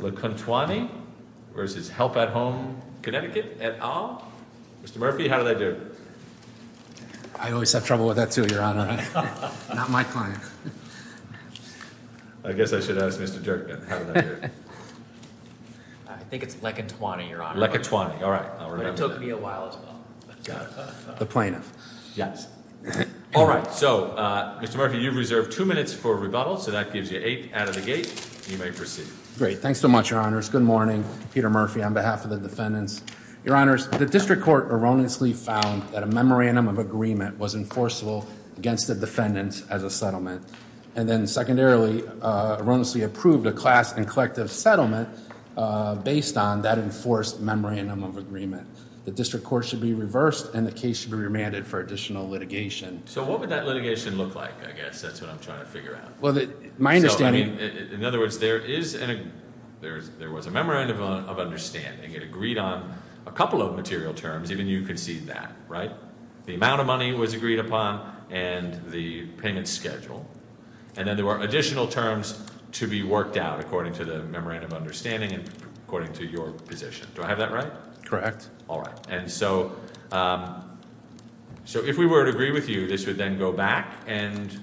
Lekuntwane v. Help at Home CT, LLC Great. Thanks so much, Your Honors. Good morning. Peter Murphy on behalf of the defendants. Your Honors, the District Court erroneously found that a memorandum of agreement was enforceable against the defendants as a settlement, and then secondarily erroneously approved a class and collective settlement based on that enforced memorandum of agreement. The District Court should be reversed and the case should be remanded for additional litigation. So what would that litigation look like? I guess that's what I'm trying to figure out. My understanding... In other words, there was a memorandum of understanding. It agreed on a couple of material terms. Even you can see that, right? The amount of money was agreed upon and the payment schedule. And then there were additional terms to be worked out according to the memorandum of understanding and according to your position. Do I have that right? Correct. All right. And so if we were to agree with you, this would then go back and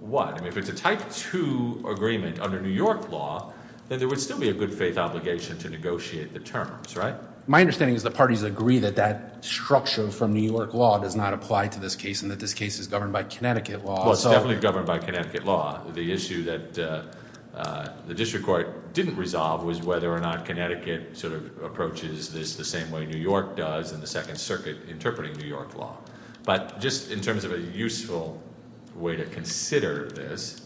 what? I mean, if it's a type two agreement under New York law, then there would still be a good faith obligation to negotiate the terms, right? My understanding is the parties agree that that structure from New York law does not apply to this case and that this case is governed by Connecticut law. Well, it's definitely governed by Connecticut law. The issue that the District Court didn't resolve was whether or not Connecticut sort of approaches this the same way New York does in the Second Circuit interpreting New York law. But just in terms of a useful way to consider this,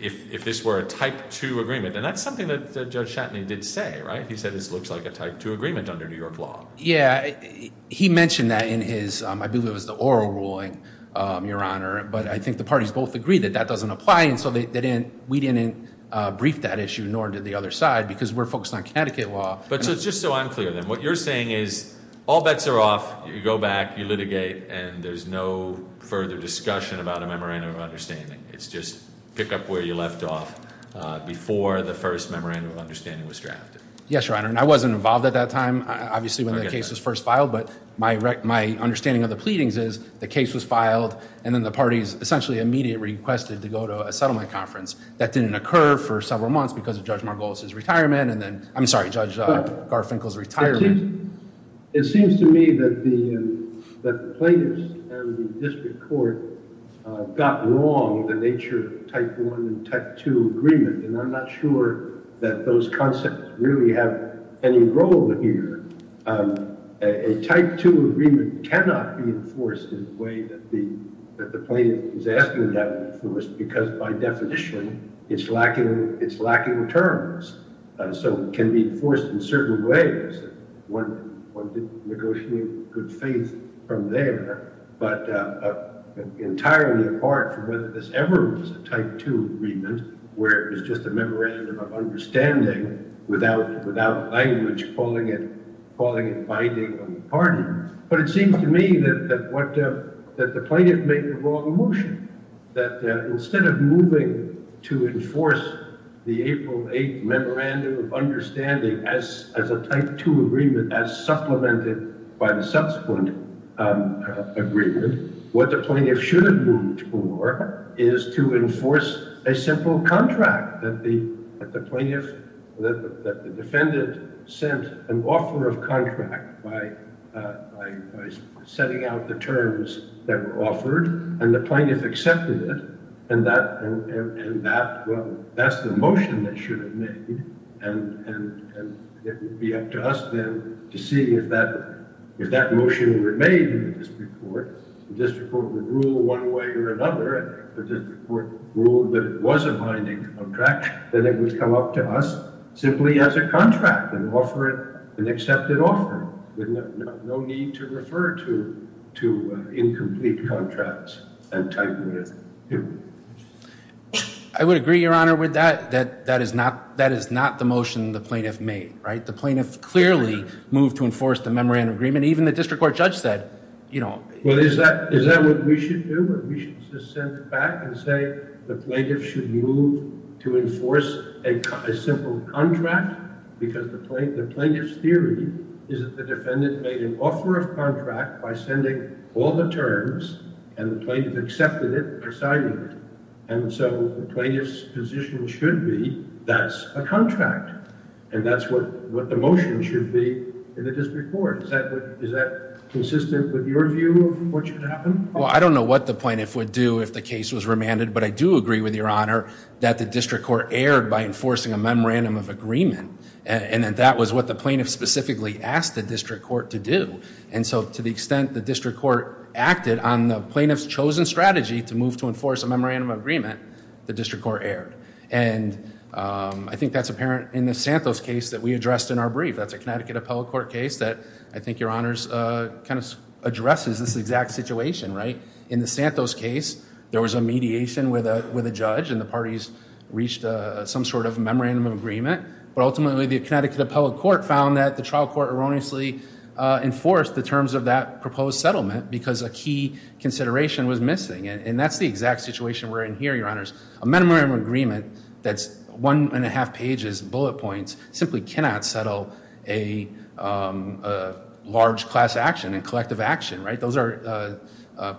if this were a type two agreement, and that's something that Judge Chatney did say, right? He said this looks like a type two agreement under New York law. Yeah, he mentioned that in his, I believe it was the oral ruling, Your Honor. But I think the parties both agree that that doesn't apply. And so we didn't brief that issue, nor did the other side, because we're focused on Connecticut law. But just so I'm clear then, what you're saying is all bets are off, you go back, you litigate, and there's no further discussion about a memorandum of understanding. It's just pick up where you left off before the first memorandum of understanding was drafted. Yes, Your Honor. And I wasn't involved at that time, obviously, when the case was first filed. But my understanding of the pleadings is the case was filed, and then the parties essentially immediately requested to go to a settlement conference. That didn't occur for several months because of Judge Margolis's retirement. And then, I'm sorry, Judge Garfinkel's retirement. It seems to me that the plaintiffs and the district court got wrong the nature of type one and type two agreement. And I'm not sure that those concepts really have any role here. A type two agreement cannot be enforced in the way that the plaintiff is asking that to be enforced, because by definition, it's lacking terms. So it can be enforced in certain ways. One could negotiate good faith from there, but entirely apart from whether this ever was a type two agreement, where it was just a memorandum of understanding without language calling it binding on the party. But it seems to me that the plaintiff made the wrong motion, that instead of moving to enforce the April 8th memorandum of understanding as a type two agreement, as supplemented by the subsequent agreement, what the plaintiff should have moved for is to enforce a simple contract that the plaintiff, that the defendant sent an offer of by setting out the terms that were offered, and the plaintiff accepted it. And that, well, that's the motion that should have made. And it would be up to us then to see if that motion remained in the district court. The district court would rule one way or another, and if the district court ruled that it was a binding contract, then it would come up to us simply as a contract and offer it an accepted offer with no need to refer to incomplete contracts and type two. I would agree, your honor, with that. That is not the motion the plaintiff made, right? The plaintiff clearly moved to enforce the memorandum agreement. Even the district court judge said, you know... Well, is that what we should do? We should just send it back and say the plaintiff should move to enforce a simple contract because the plaintiff's theory is that the defendant made an offer of contract by sending all the terms, and the plaintiff accepted it by signing it. And so the plaintiff's position should be that's a contract. And that's what the motion should be in the district court. Is that consistent with your view of what should happen? Well, I don't know what the plaintiff would do if the case was remanded, but I do agree with your honor that the district court erred by enforcing a memorandum of agreement. And that was what the plaintiff specifically asked the district court to do. And so to the extent the district court acted on the plaintiff's chosen strategy to move to enforce a memorandum of agreement, the district court erred. And I think that's apparent in the Santos case that we addressed in our brief. That's a Connecticut addresses this exact situation, right? In the Santos case, there was a mediation with a judge and the parties reached some sort of memorandum of agreement. But ultimately, the Connecticut Appellate Court found that the trial court erroneously enforced the terms of that proposed settlement because a key consideration was missing. And that's the exact situation we're in here, your honors. A memorandum of agreement that's one and a half pages bullet points simply cannot settle a large class action and collective action, right? Those are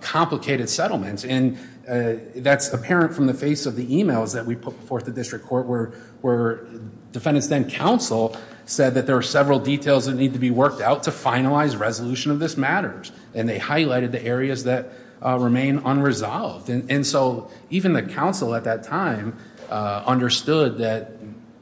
complicated settlements. And that's apparent from the face of the emails that we put forth the district court where defendants then counsel said that there were several details that need to be worked out to finalize resolution of this matters. And they highlighted the areas that remain unresolved. And so even the counsel at that time understood that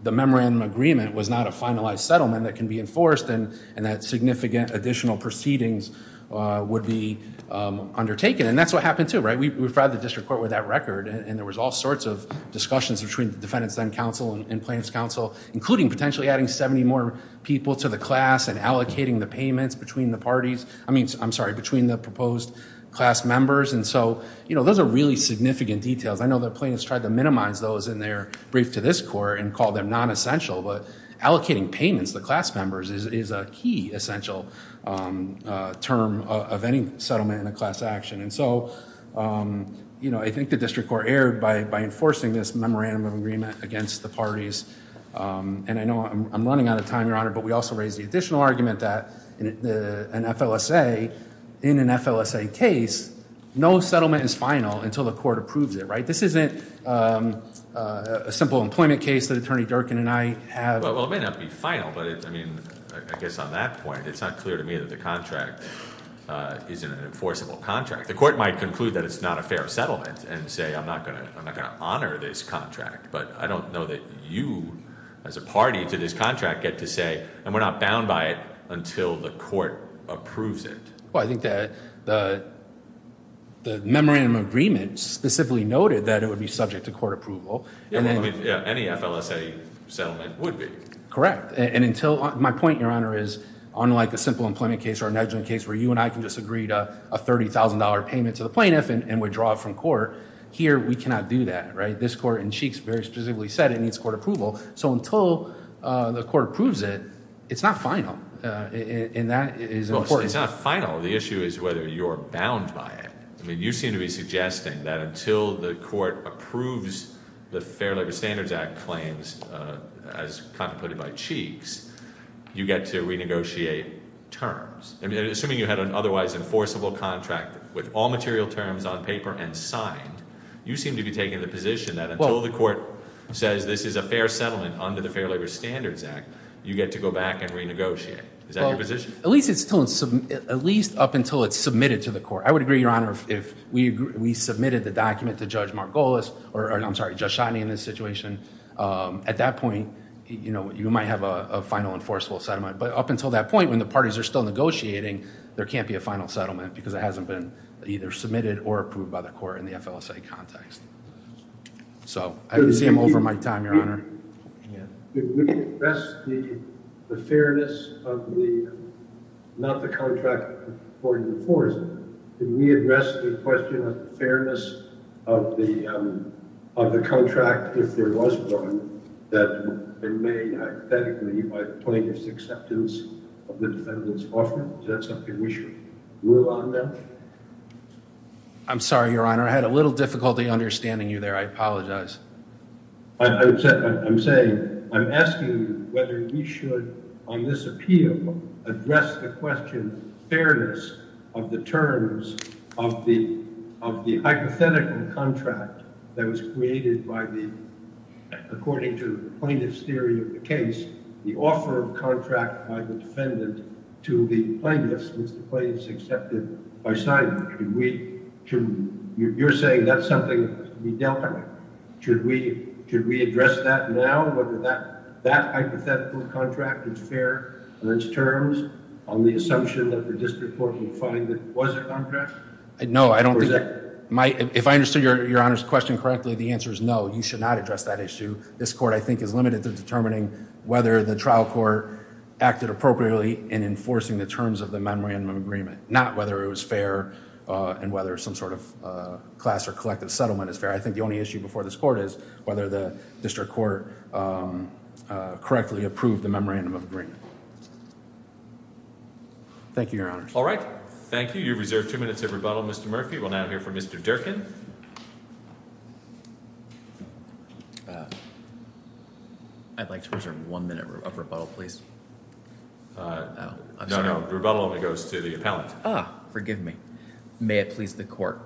the memorandum agreement was not a finalized settlement that can be enforced and that significant additional proceedings would be undertaken. And that's what happened too, right? We've brought the district court with that record and there was all sorts of discussions between the defendants then counsel and plaintiff's counsel, including potentially adding 70 more people to the class and allocating the payments between the parties. I mean, I'm sorry, between the proposed class members. And so those are really significant details. I know the plaintiffs tried to minimize those in their brief to this court and call them non-essential, but allocating payments to the class members is a key essential term of any settlement in a class action. And so I think the district court erred by enforcing this memorandum of agreement against the parties. And I know I'm running out of time, Your Honor, but we also raised the additional argument that in an FLSA case, no settlement is final until the isn't a simple employment case that attorney Durkin and I have. Well, it may not be final, but I mean, I guess on that point, it's not clear to me that the contract isn't an enforceable contract. The court might conclude that it's not a fair settlement and say, I'm not going to, I'm not going to honor this contract, but I don't know that you as a party to this contract get to say, and we're not bound by it until the court approves it. Well, I think the memorandum of agreement specifically noted that it would be subject to court approval. Any FLSA settlement would be. Correct. And until my point, Your Honor, is unlike a simple employment case or an adjunct case where you and I can just agree to a $30,000 payment to the plaintiff and withdraw from court. Here, we cannot do that, right? This court in Cheeks very specifically said it needs court approval. So until the court approves it, it's not final. And that is important. It's not final. The issue is whether you're bound by it. I mean, you seem to be suggesting that until the court approves the Fair Labor Standards Act claims, as kind of put it by Cheeks, you get to renegotiate terms. I mean, assuming you had an otherwise enforceable contract with all material terms on paper and signed, you seem to be taking the position that until the court says this is a fair settlement under the Fair Labor Standards Act, you get to back and renegotiate. Is that your position? At least up until it's submitted to the court. I would agree, Your Honor, if we submitted the document to Judge Margolis or, I'm sorry, Judge Schotteny in this situation. At that point, you might have a final enforceable settlement. But up until that point, when the parties are still negotiating, there can't be a final settlement because it hasn't been either submitted or approved by the court in the FLSA context. So, I can see I'm over my time, Your Honor. Did we address the fairness of the, not the contract for enforcement, did we address the question of the fairness of the contract if there was one that remained hypothetically by plaintiff's acceptance of the defendant's offer? Is that something we should move on now? I'm sorry, Your Honor. I had a little difficulty understanding you there. I apologize. I'm saying, I'm asking whether we should, on this appeal, address the question, fairness of the terms of the hypothetical contract that was created by the, according to plaintiff's theory of the case, the offer of contract by the defendant to the plaintiff's, which the plaintiff's accepted by signing. You're saying that's something we dealt with. Should we address that now, whether that hypothetical contract is fair on its terms, on the assumption that the district court would find that it was a contract? No, I don't think, if I understood Your Honor's question correctly, the answer is no, you should not address that issue. This court, I think, is limited to determining whether the trial court acted appropriately in enforcing the terms of the memorandum of agreement, not whether it was fair and whether some sort of class or collective settlement is fair. I think the only issue before this court is whether the district court correctly approved the memorandum of agreement. Thank you, Your Honor. All right. Thank you. You've reserved two minutes of rebuttal. Mr. Murphy, we'll now hear from Mr. Durkin. I'd like to reserve one minute of rebuttal, please. No, no. The rebuttal only goes to the appellant. Forgive me. May it please the court.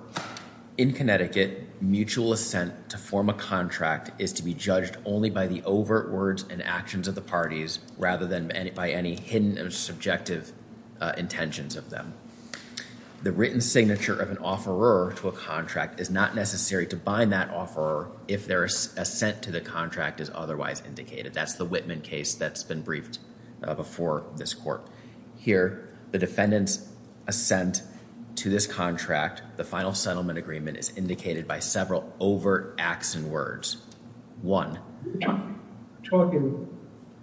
In Connecticut, mutual assent to form a contract is to be judged only by the overt words and actions of the parties, rather than by any hidden or subjective intentions of them. The written signature of an offeror to a contract is not necessary to bind that offeror if their assent to the contract is otherwise indicated. That's the Whitman case that's been briefed before this court. Here, the defendant's assent to this contract, the final settlement agreement, is indicated by several overt acts and words. One. You're talking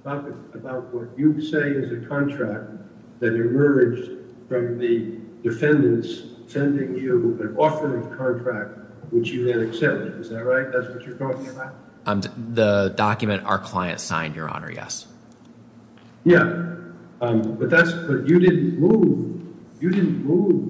about what you say is a contract that emerged from the defendant's sending you an offering contract which you then accepted. Is that right? That's what you're talking about? The document our client signed, your honor, yes. Yeah, but you didn't move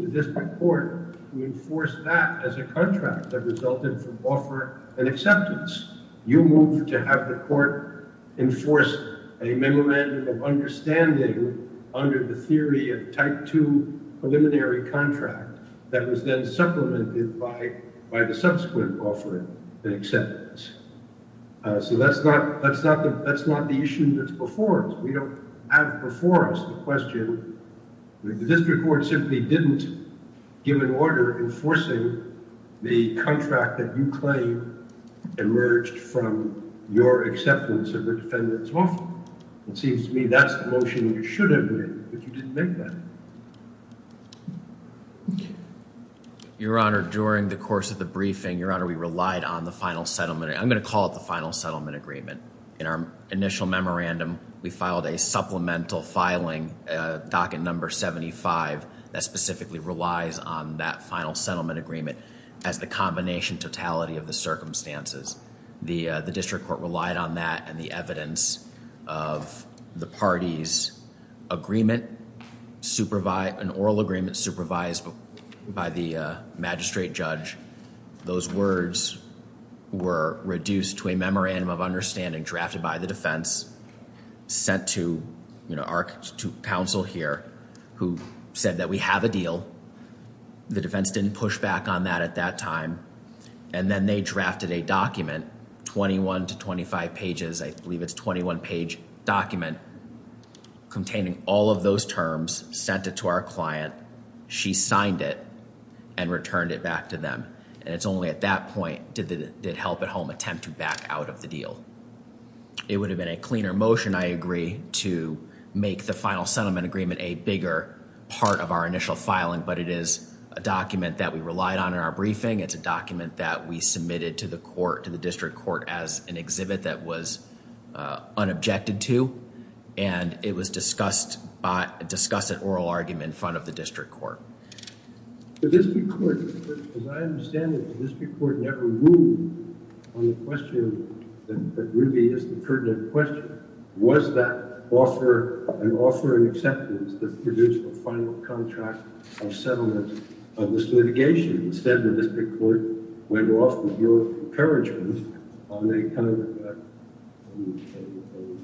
to this court to enforce that as a contract that resulted from offer and acceptance. You moved to have the court enforce a memorandum of understanding under the theory of type two preliminary contract that was then supplemented by the subsequent offering and acceptance. So that's not the issue that's before us. We don't have before us the question. The district court simply didn't give an order enforcing the contract that you claim emerged from your acceptance of the defendant's offer. It seems to me that's the motion you should have made, but you didn't make that. Your honor, during the course of the briefing, we relied on the final settlement. I'm going to call it the final settlement agreement. In our initial memorandum, we filed a supplemental filing, docket number 75, that specifically relies on that final settlement agreement as the combination totality of the circumstances. The district court relied on that and the evidence of the party's agreement, an oral agreement supervised by the magistrate judge. Those words were reduced to a memorandum of understanding drafted by the defense, sent to our counsel here, who said that we have a deal. The defense didn't push back on that at time. And then they drafted a document, 21 to 25 pages. I believe it's a 21-page document containing all of those terms, sent it to our client. She signed it and returned it back to them. And it's only at that point did Help at Home attempt to back out of the deal. It would have been a cleaner motion, I agree, to make the final settlement agreement a bigger part of our initial filing. But it is a document that we relied on in our briefing. It's a document that we submitted to the court, to the district court, as an exhibit that was unobjected to. And it was discussed at oral argument in front of the district court. The district court, as I understand it, the district court never moved on the question that really is the pertinent question. Was that an offer and acceptance that produced the final contract of settlement of this litigation? Instead, the district court went off with no encouragement on a kind of a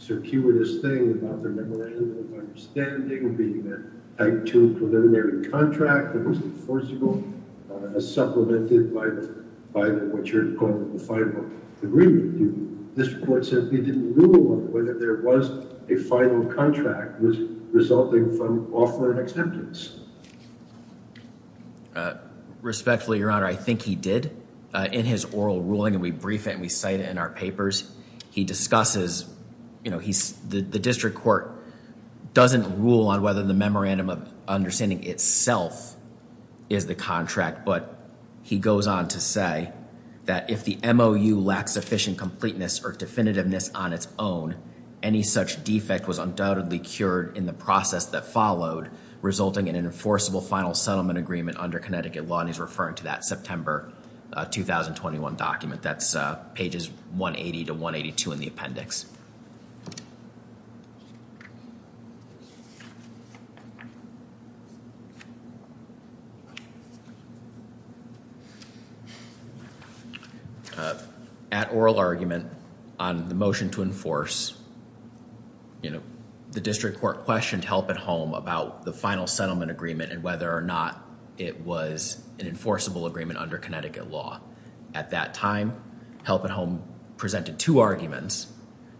circuitous thing about the memorandum of understanding being a type two preliminary contract that was enforceable, supplemented by what you're calling the final agreement. The district court said they didn't rule on whether there was a final contract resulting from offer and acceptance. Respectfully, Your Honor, I think he did. In his oral ruling, and we brief it and we cite it in our papers, he discusses, you know, the district court doesn't rule on whether the memorandum of understanding itself is the contract. But he goes on to say that if the MOU lacks sufficient completeness or definitiveness on its own, any such defect was undoubtedly cured in the process that followed, resulting in an enforceable final settlement agreement under Connecticut law. And he's referring to that September 2021 document. That's pages 180 to 182 in the appendix. At oral argument on the motion to enforce, you know, the district court questioned Help at Home about the final settlement agreement and whether or not it was an enforceable agreement under Connecticut law. At that time, Help at Home presented two arguments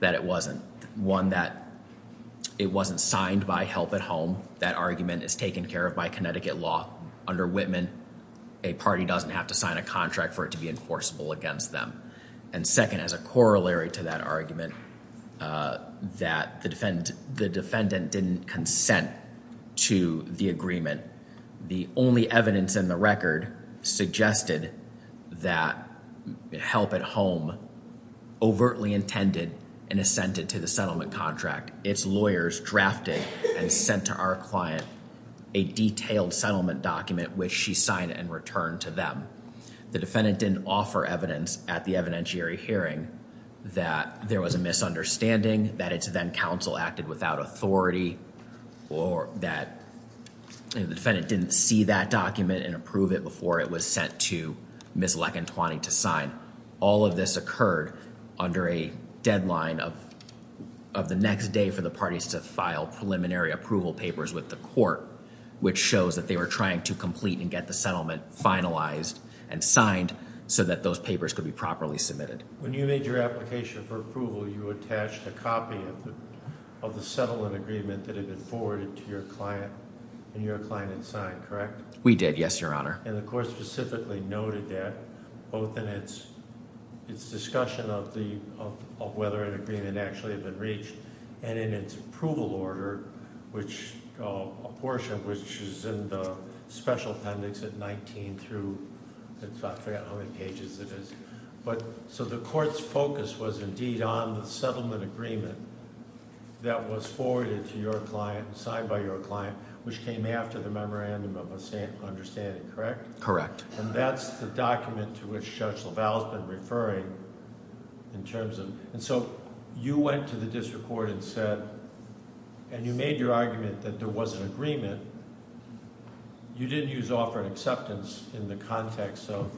that it wasn't. One that it wasn't signed by Help at Home. That argument is taken care of by Connecticut law under Whitman. A party doesn't have to sign a contract for it to be enforceable against them. And second, as a corollary to that argument, that the defendant didn't consent to the agreement. The only evidence in the record suggested that Help at Home overtly intended and assented to settlement contract. Its lawyers drafted and sent to our client a detailed settlement document which she signed and returned to them. The defendant didn't offer evidence at the evidentiary hearing that there was a misunderstanding, that its then counsel acted without authority, or that the defendant didn't see that document and approve it before it was sent to the court. All of this occurred under a deadline of the next day for the parties to file preliminary approval papers with the court, which shows that they were trying to complete and get the settlement finalized and signed so that those papers could be properly submitted. When you made your application for approval, you attached a copy of the settlement agreement that had been forwarded to your client, and your client had signed, correct? We did, yes, your honor. And the court specifically noted that both in its discussion of whether an agreement actually had been reached, and in its approval order, a portion which is in the special appendix at 19 through, I forgot how many pages it is. So the court's focus was indeed on the settlement agreement that was forwarded to your client, signed by your client, which came after the understanding, correct? Correct. And that's the document to which Judge LaValle has been referring in terms of... and so you went to the district court and said... and you made your argument that there was an agreement. You didn't use offer and acceptance in the context of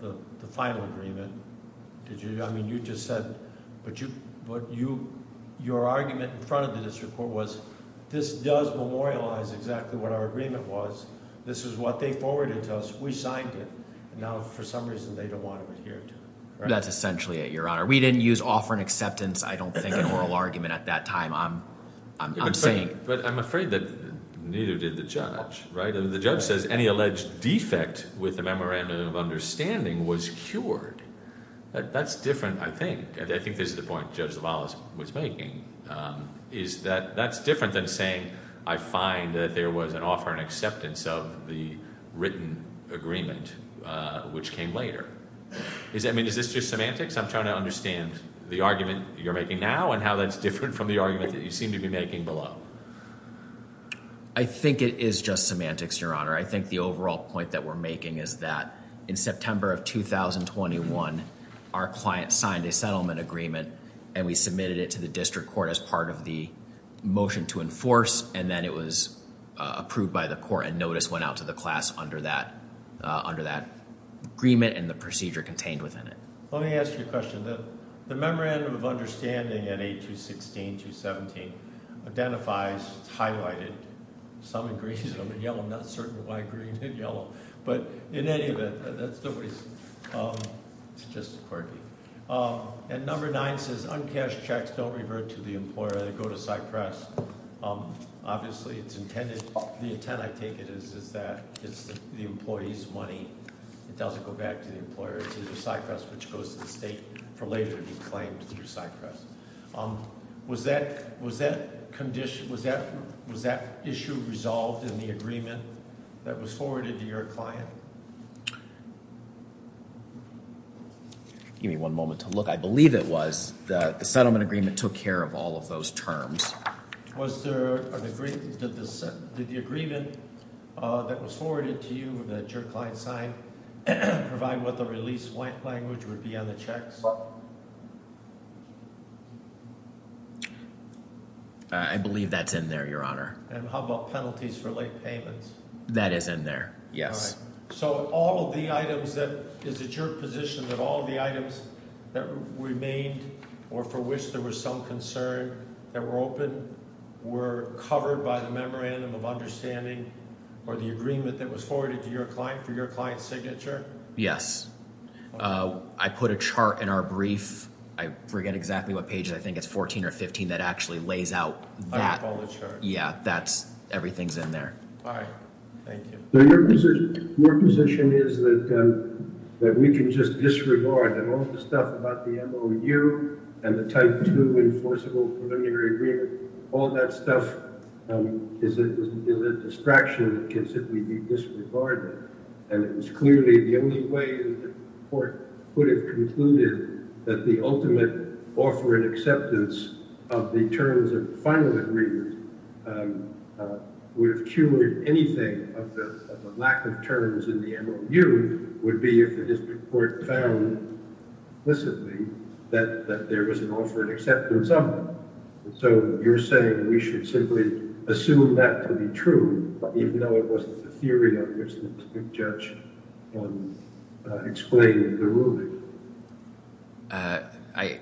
the final agreement. I mean, you just said... but your argument in front of the district court was, this does memorialize exactly what our agreement was, this is what they forwarded to us, we signed it, and now for some reason they don't want to adhere to it, right? That's essentially it, your honor. We didn't use offer and acceptance, I don't think, in oral argument at that time. I'm saying... But I'm afraid that neither did the judge, right? The judge says any alleged defect with the memorandum of understanding was cured. That's different, I think. I think this is the point Judge LaValle was making, is that that's different than saying, I find that there was an offer and acceptance of the written agreement, which came later. I mean, is this just semantics? I'm trying to understand the argument you're making now, and how that's different from the argument that you seem to be making below. I think it is just semantics, your honor. I think the overall point that we're making is that in September of 2021, our client signed a settlement agreement and we submitted it to the district court as part of the motion to enforce, and then it was approved by the court and notice went out to the class under that agreement and the procedure contained within it. Let me ask you a question. The memorandum of understanding at 8216-217 identifies, it's highlighted, some in green, some in yellow, I'm not certain why green and yellow, but in any event, that's the reason. It's just quirky. And number nine says uncashed checks don't revert to the employer, they go to Cypress. Obviously it's intended, the intent, I take it, is that it's the employee's money. It doesn't go back to the employer. It's either Cypress, which goes to the state for later to be claimed through Cypress. Was that issue resolved in the agreement that was forwarded to your client? Give me one moment to look. I believe it was. The settlement agreement took care of all of those terms. Did the agreement that was forwarded to you that your client signed provide what the release language would be on the checks? I believe that's in there, your honor. And how about penalties for late payments? That is in there, yes. So all of the items that, is it your position that all the items that remained or for which there was some concern that were open were covered by the memorandum of understanding or the agreement that was forwarded to your client for your client's 14 or 15 that actually lays out that? I recall the charge. Yeah, that's, everything's in there. All right, thank you. So your position is that we can just disregard that all the stuff about the MOU and the Type 2 Enforceable Preliminary Agreement, all that stuff is a distraction that can simply be disregarded. And it was clearly the only way the court would have concluded that the ultimate offer and acceptance of the terms of the final agreement would have cured anything of the lack of terms in the MOU would be if the district court found implicitly that there was an offer and acceptance of it. So you're saying we should simply assume that to be true, even though it wasn't the theory that was used to judge and explain the ruling? I,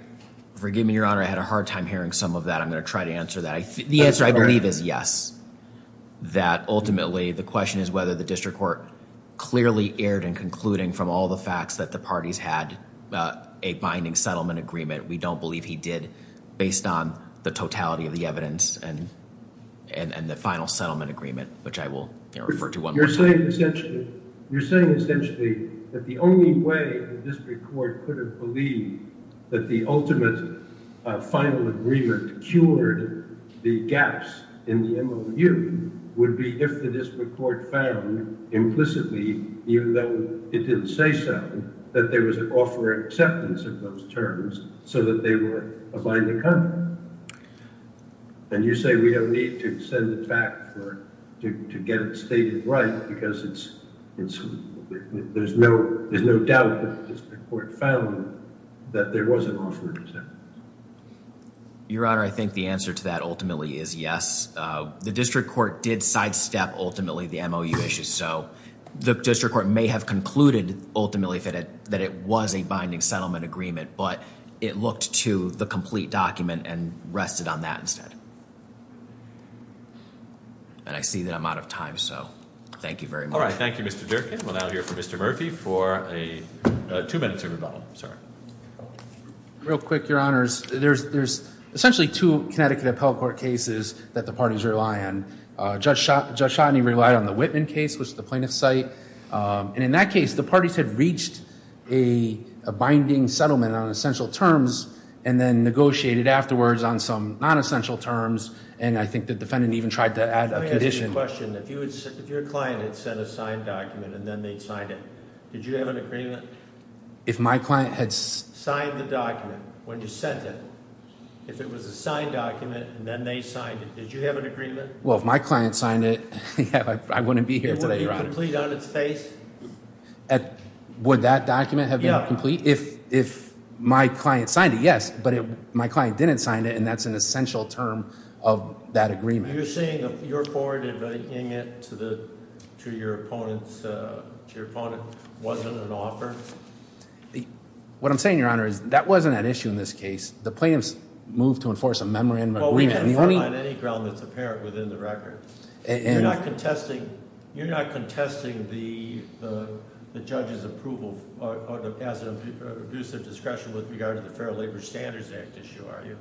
forgive me, your honor, I had a hard time hearing some of that. I'm going to try to answer that. The answer I believe is yes, that ultimately the question is whether the district court clearly erred in concluding from all the facts that the parties had a binding settlement agreement. We don't believe he did based on the totality of the evidence and the final settlement agreement, which I will refer to one more time. You're saying essentially, you're saying essentially that the only way the district court could have believed that the ultimate final agreement cured the gaps in the MOU would be if the district court found implicitly, even though it didn't say so, that there was an offer and acceptance of those terms so that they were a binding contract. And you say we don't need to extend the fact to get it stated right because there's no doubt that the district court found that there was an offer. Your honor, I think the answer to that ultimately is yes. The district court did sidestep ultimately the MOU issue. So the district court may have concluded ultimately that it was a binding settlement agreement, but it looked to the complete document and rested on that instead. And I see that I'm out of time, so thank you very much. All right, thank you, Mr. Durkin. We'll now hear from Mr. Murphy for a two-minute rebuttal, sir. Real quick, your honors. There's essentially two Connecticut appellate court cases that the parties rely on. Judge Chodny relied on the Whitman case, which is the plaintiff's site. And in that case, the parties had reached a binding settlement on essential terms and then negotiated afterwards on some non-essential terms. And I think the defendant even tried to add a condition. Let me ask you a question. If your client had sent a signed document and then they'd signed it, did you have an agreement? If my client had signed the document when you sent it, if it was a signed document and then they signed it, did you have an agreement? Well, if my client signed it, I wouldn't be here today, your honor. Would that document have been complete? If my client signed it, yes. But if my client didn't sign it, and that's an essential term of that agreement. You're saying that your forward inviting it to your opponent wasn't an offer? What I'm saying, your honor, is that wasn't an issue in this case. The plaintiffs moved to a memorandum of agreement. You're not contesting the judge's approval as an abuse of discretion with regard to the Fair Labor Standards Act issue, are you?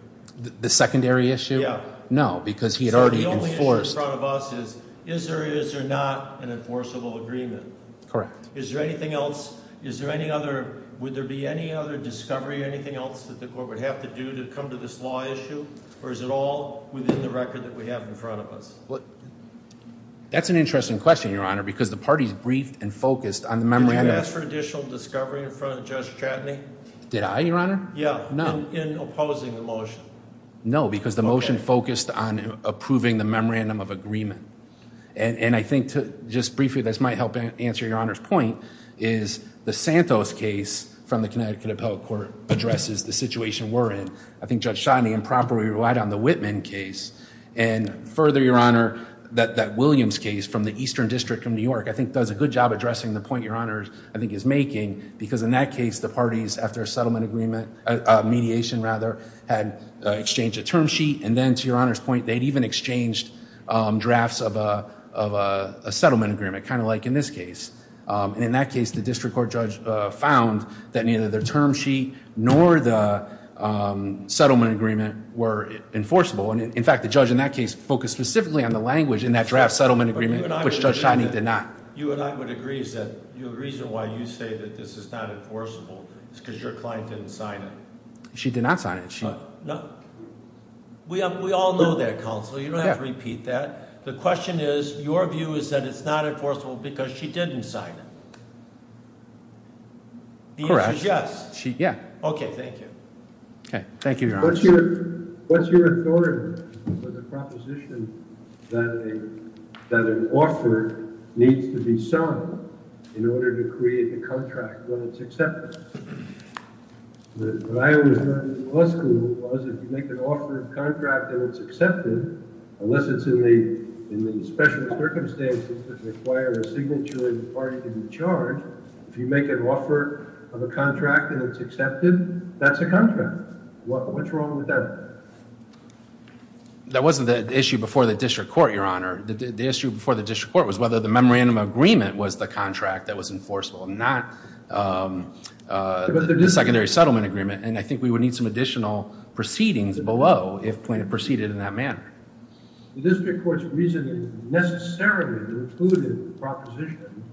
The secondary issue? Yeah. No, because he had already enforced. So the only issue in front of us is, is there or is there not an enforceable agreement? Correct. Is there anything else, is there any other, would there be any other discovery or anything else that the court would have to do to come to this law issue? Or is it all within the record that we have in front of us? That's an interesting question, your honor, because the party's briefed and focused on the memorandum. Did you ask for additional discovery in front of Judge Chatney? Did I, your honor? Yeah, in opposing the motion. No, because the motion focused on approving the memorandum of agreement. And I think to just briefly, this might help answer your honor's point, is the Santos case from the Connecticut Appellate Court addresses the situation we're in. I think Judge Chatney improperly relied on the Whitman case. And further, your honor, that Williams case from the Eastern District of New York, I think does a good job addressing the point your honor, I think, is making. Because in that case, the parties, after a settlement agreement, mediation rather, had exchanged a term sheet. And then to your honor's point, they'd even exchanged drafts of a settlement agreement, kind of like in this case. And in that case, the district court judge found that neither the term sheet nor the settlement agreement were enforceable. And in fact, the judge in that case focused specifically on the language in that draft settlement agreement, which Judge Chatney did not. You and I would agree that the reason why you say that this is not enforceable is because your client didn't sign it. She did not sign it. No. We all know that, counsel. You don't have to repeat that. The question is, your view is that it's not enforceable because she didn't sign it. The answer is yes. Correct. Yeah. Okay, thank you. Okay, thank you, your honor. What's your authority for the proposition that an offer needs to be signed in order to create the contract when it's accepted? What I always learned in law school was if you make an offer of contract and it's accepted, unless it's in the special circumstances that require a signature in the party to be charged, if you make an offer of a contract and it's accepted, that's a contract. What's wrong with that? That wasn't the issue before the district court, your honor. The issue before the district court was whether the memorandum agreement was the contract that was enforceable, not the secondary settlement agreement. And I think we would need some additional proceedings below if plaintiff proceeded in that manner. The district court's reasoning necessarily included the proposition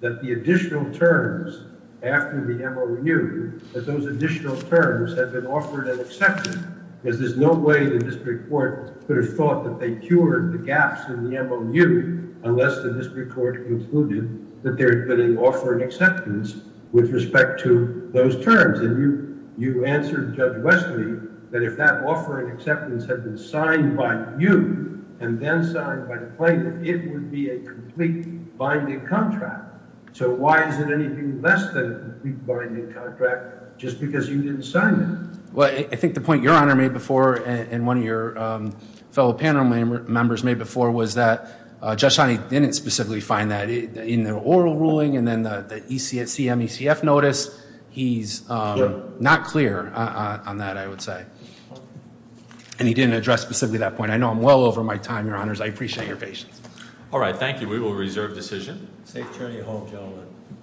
that the additional terms after the MOU, that those additional terms had been offered and accepted because there's no way the district court could have thought that they cured the gaps in the MOU unless the district court concluded that there had been an offer and acceptance with respect to those terms. And you answered Judge Westley that if that offer and acceptance had been signed by you and then signed by the plaintiff, it would be a complete binding contract. So why is it anything less than a binding contract just because you didn't sign it? Well, I think the point your honor made before and one of your fellow panel members made before was that Judge Honey didn't specifically find that in the oral ruling and then the ECF notice. He's not clear on that, I would say. And he didn't address specifically that point. I know I'm well over my time, your honors. I appreciate your patience. All right, thank you. We will reserve decision. Safe journey home, gentlemen.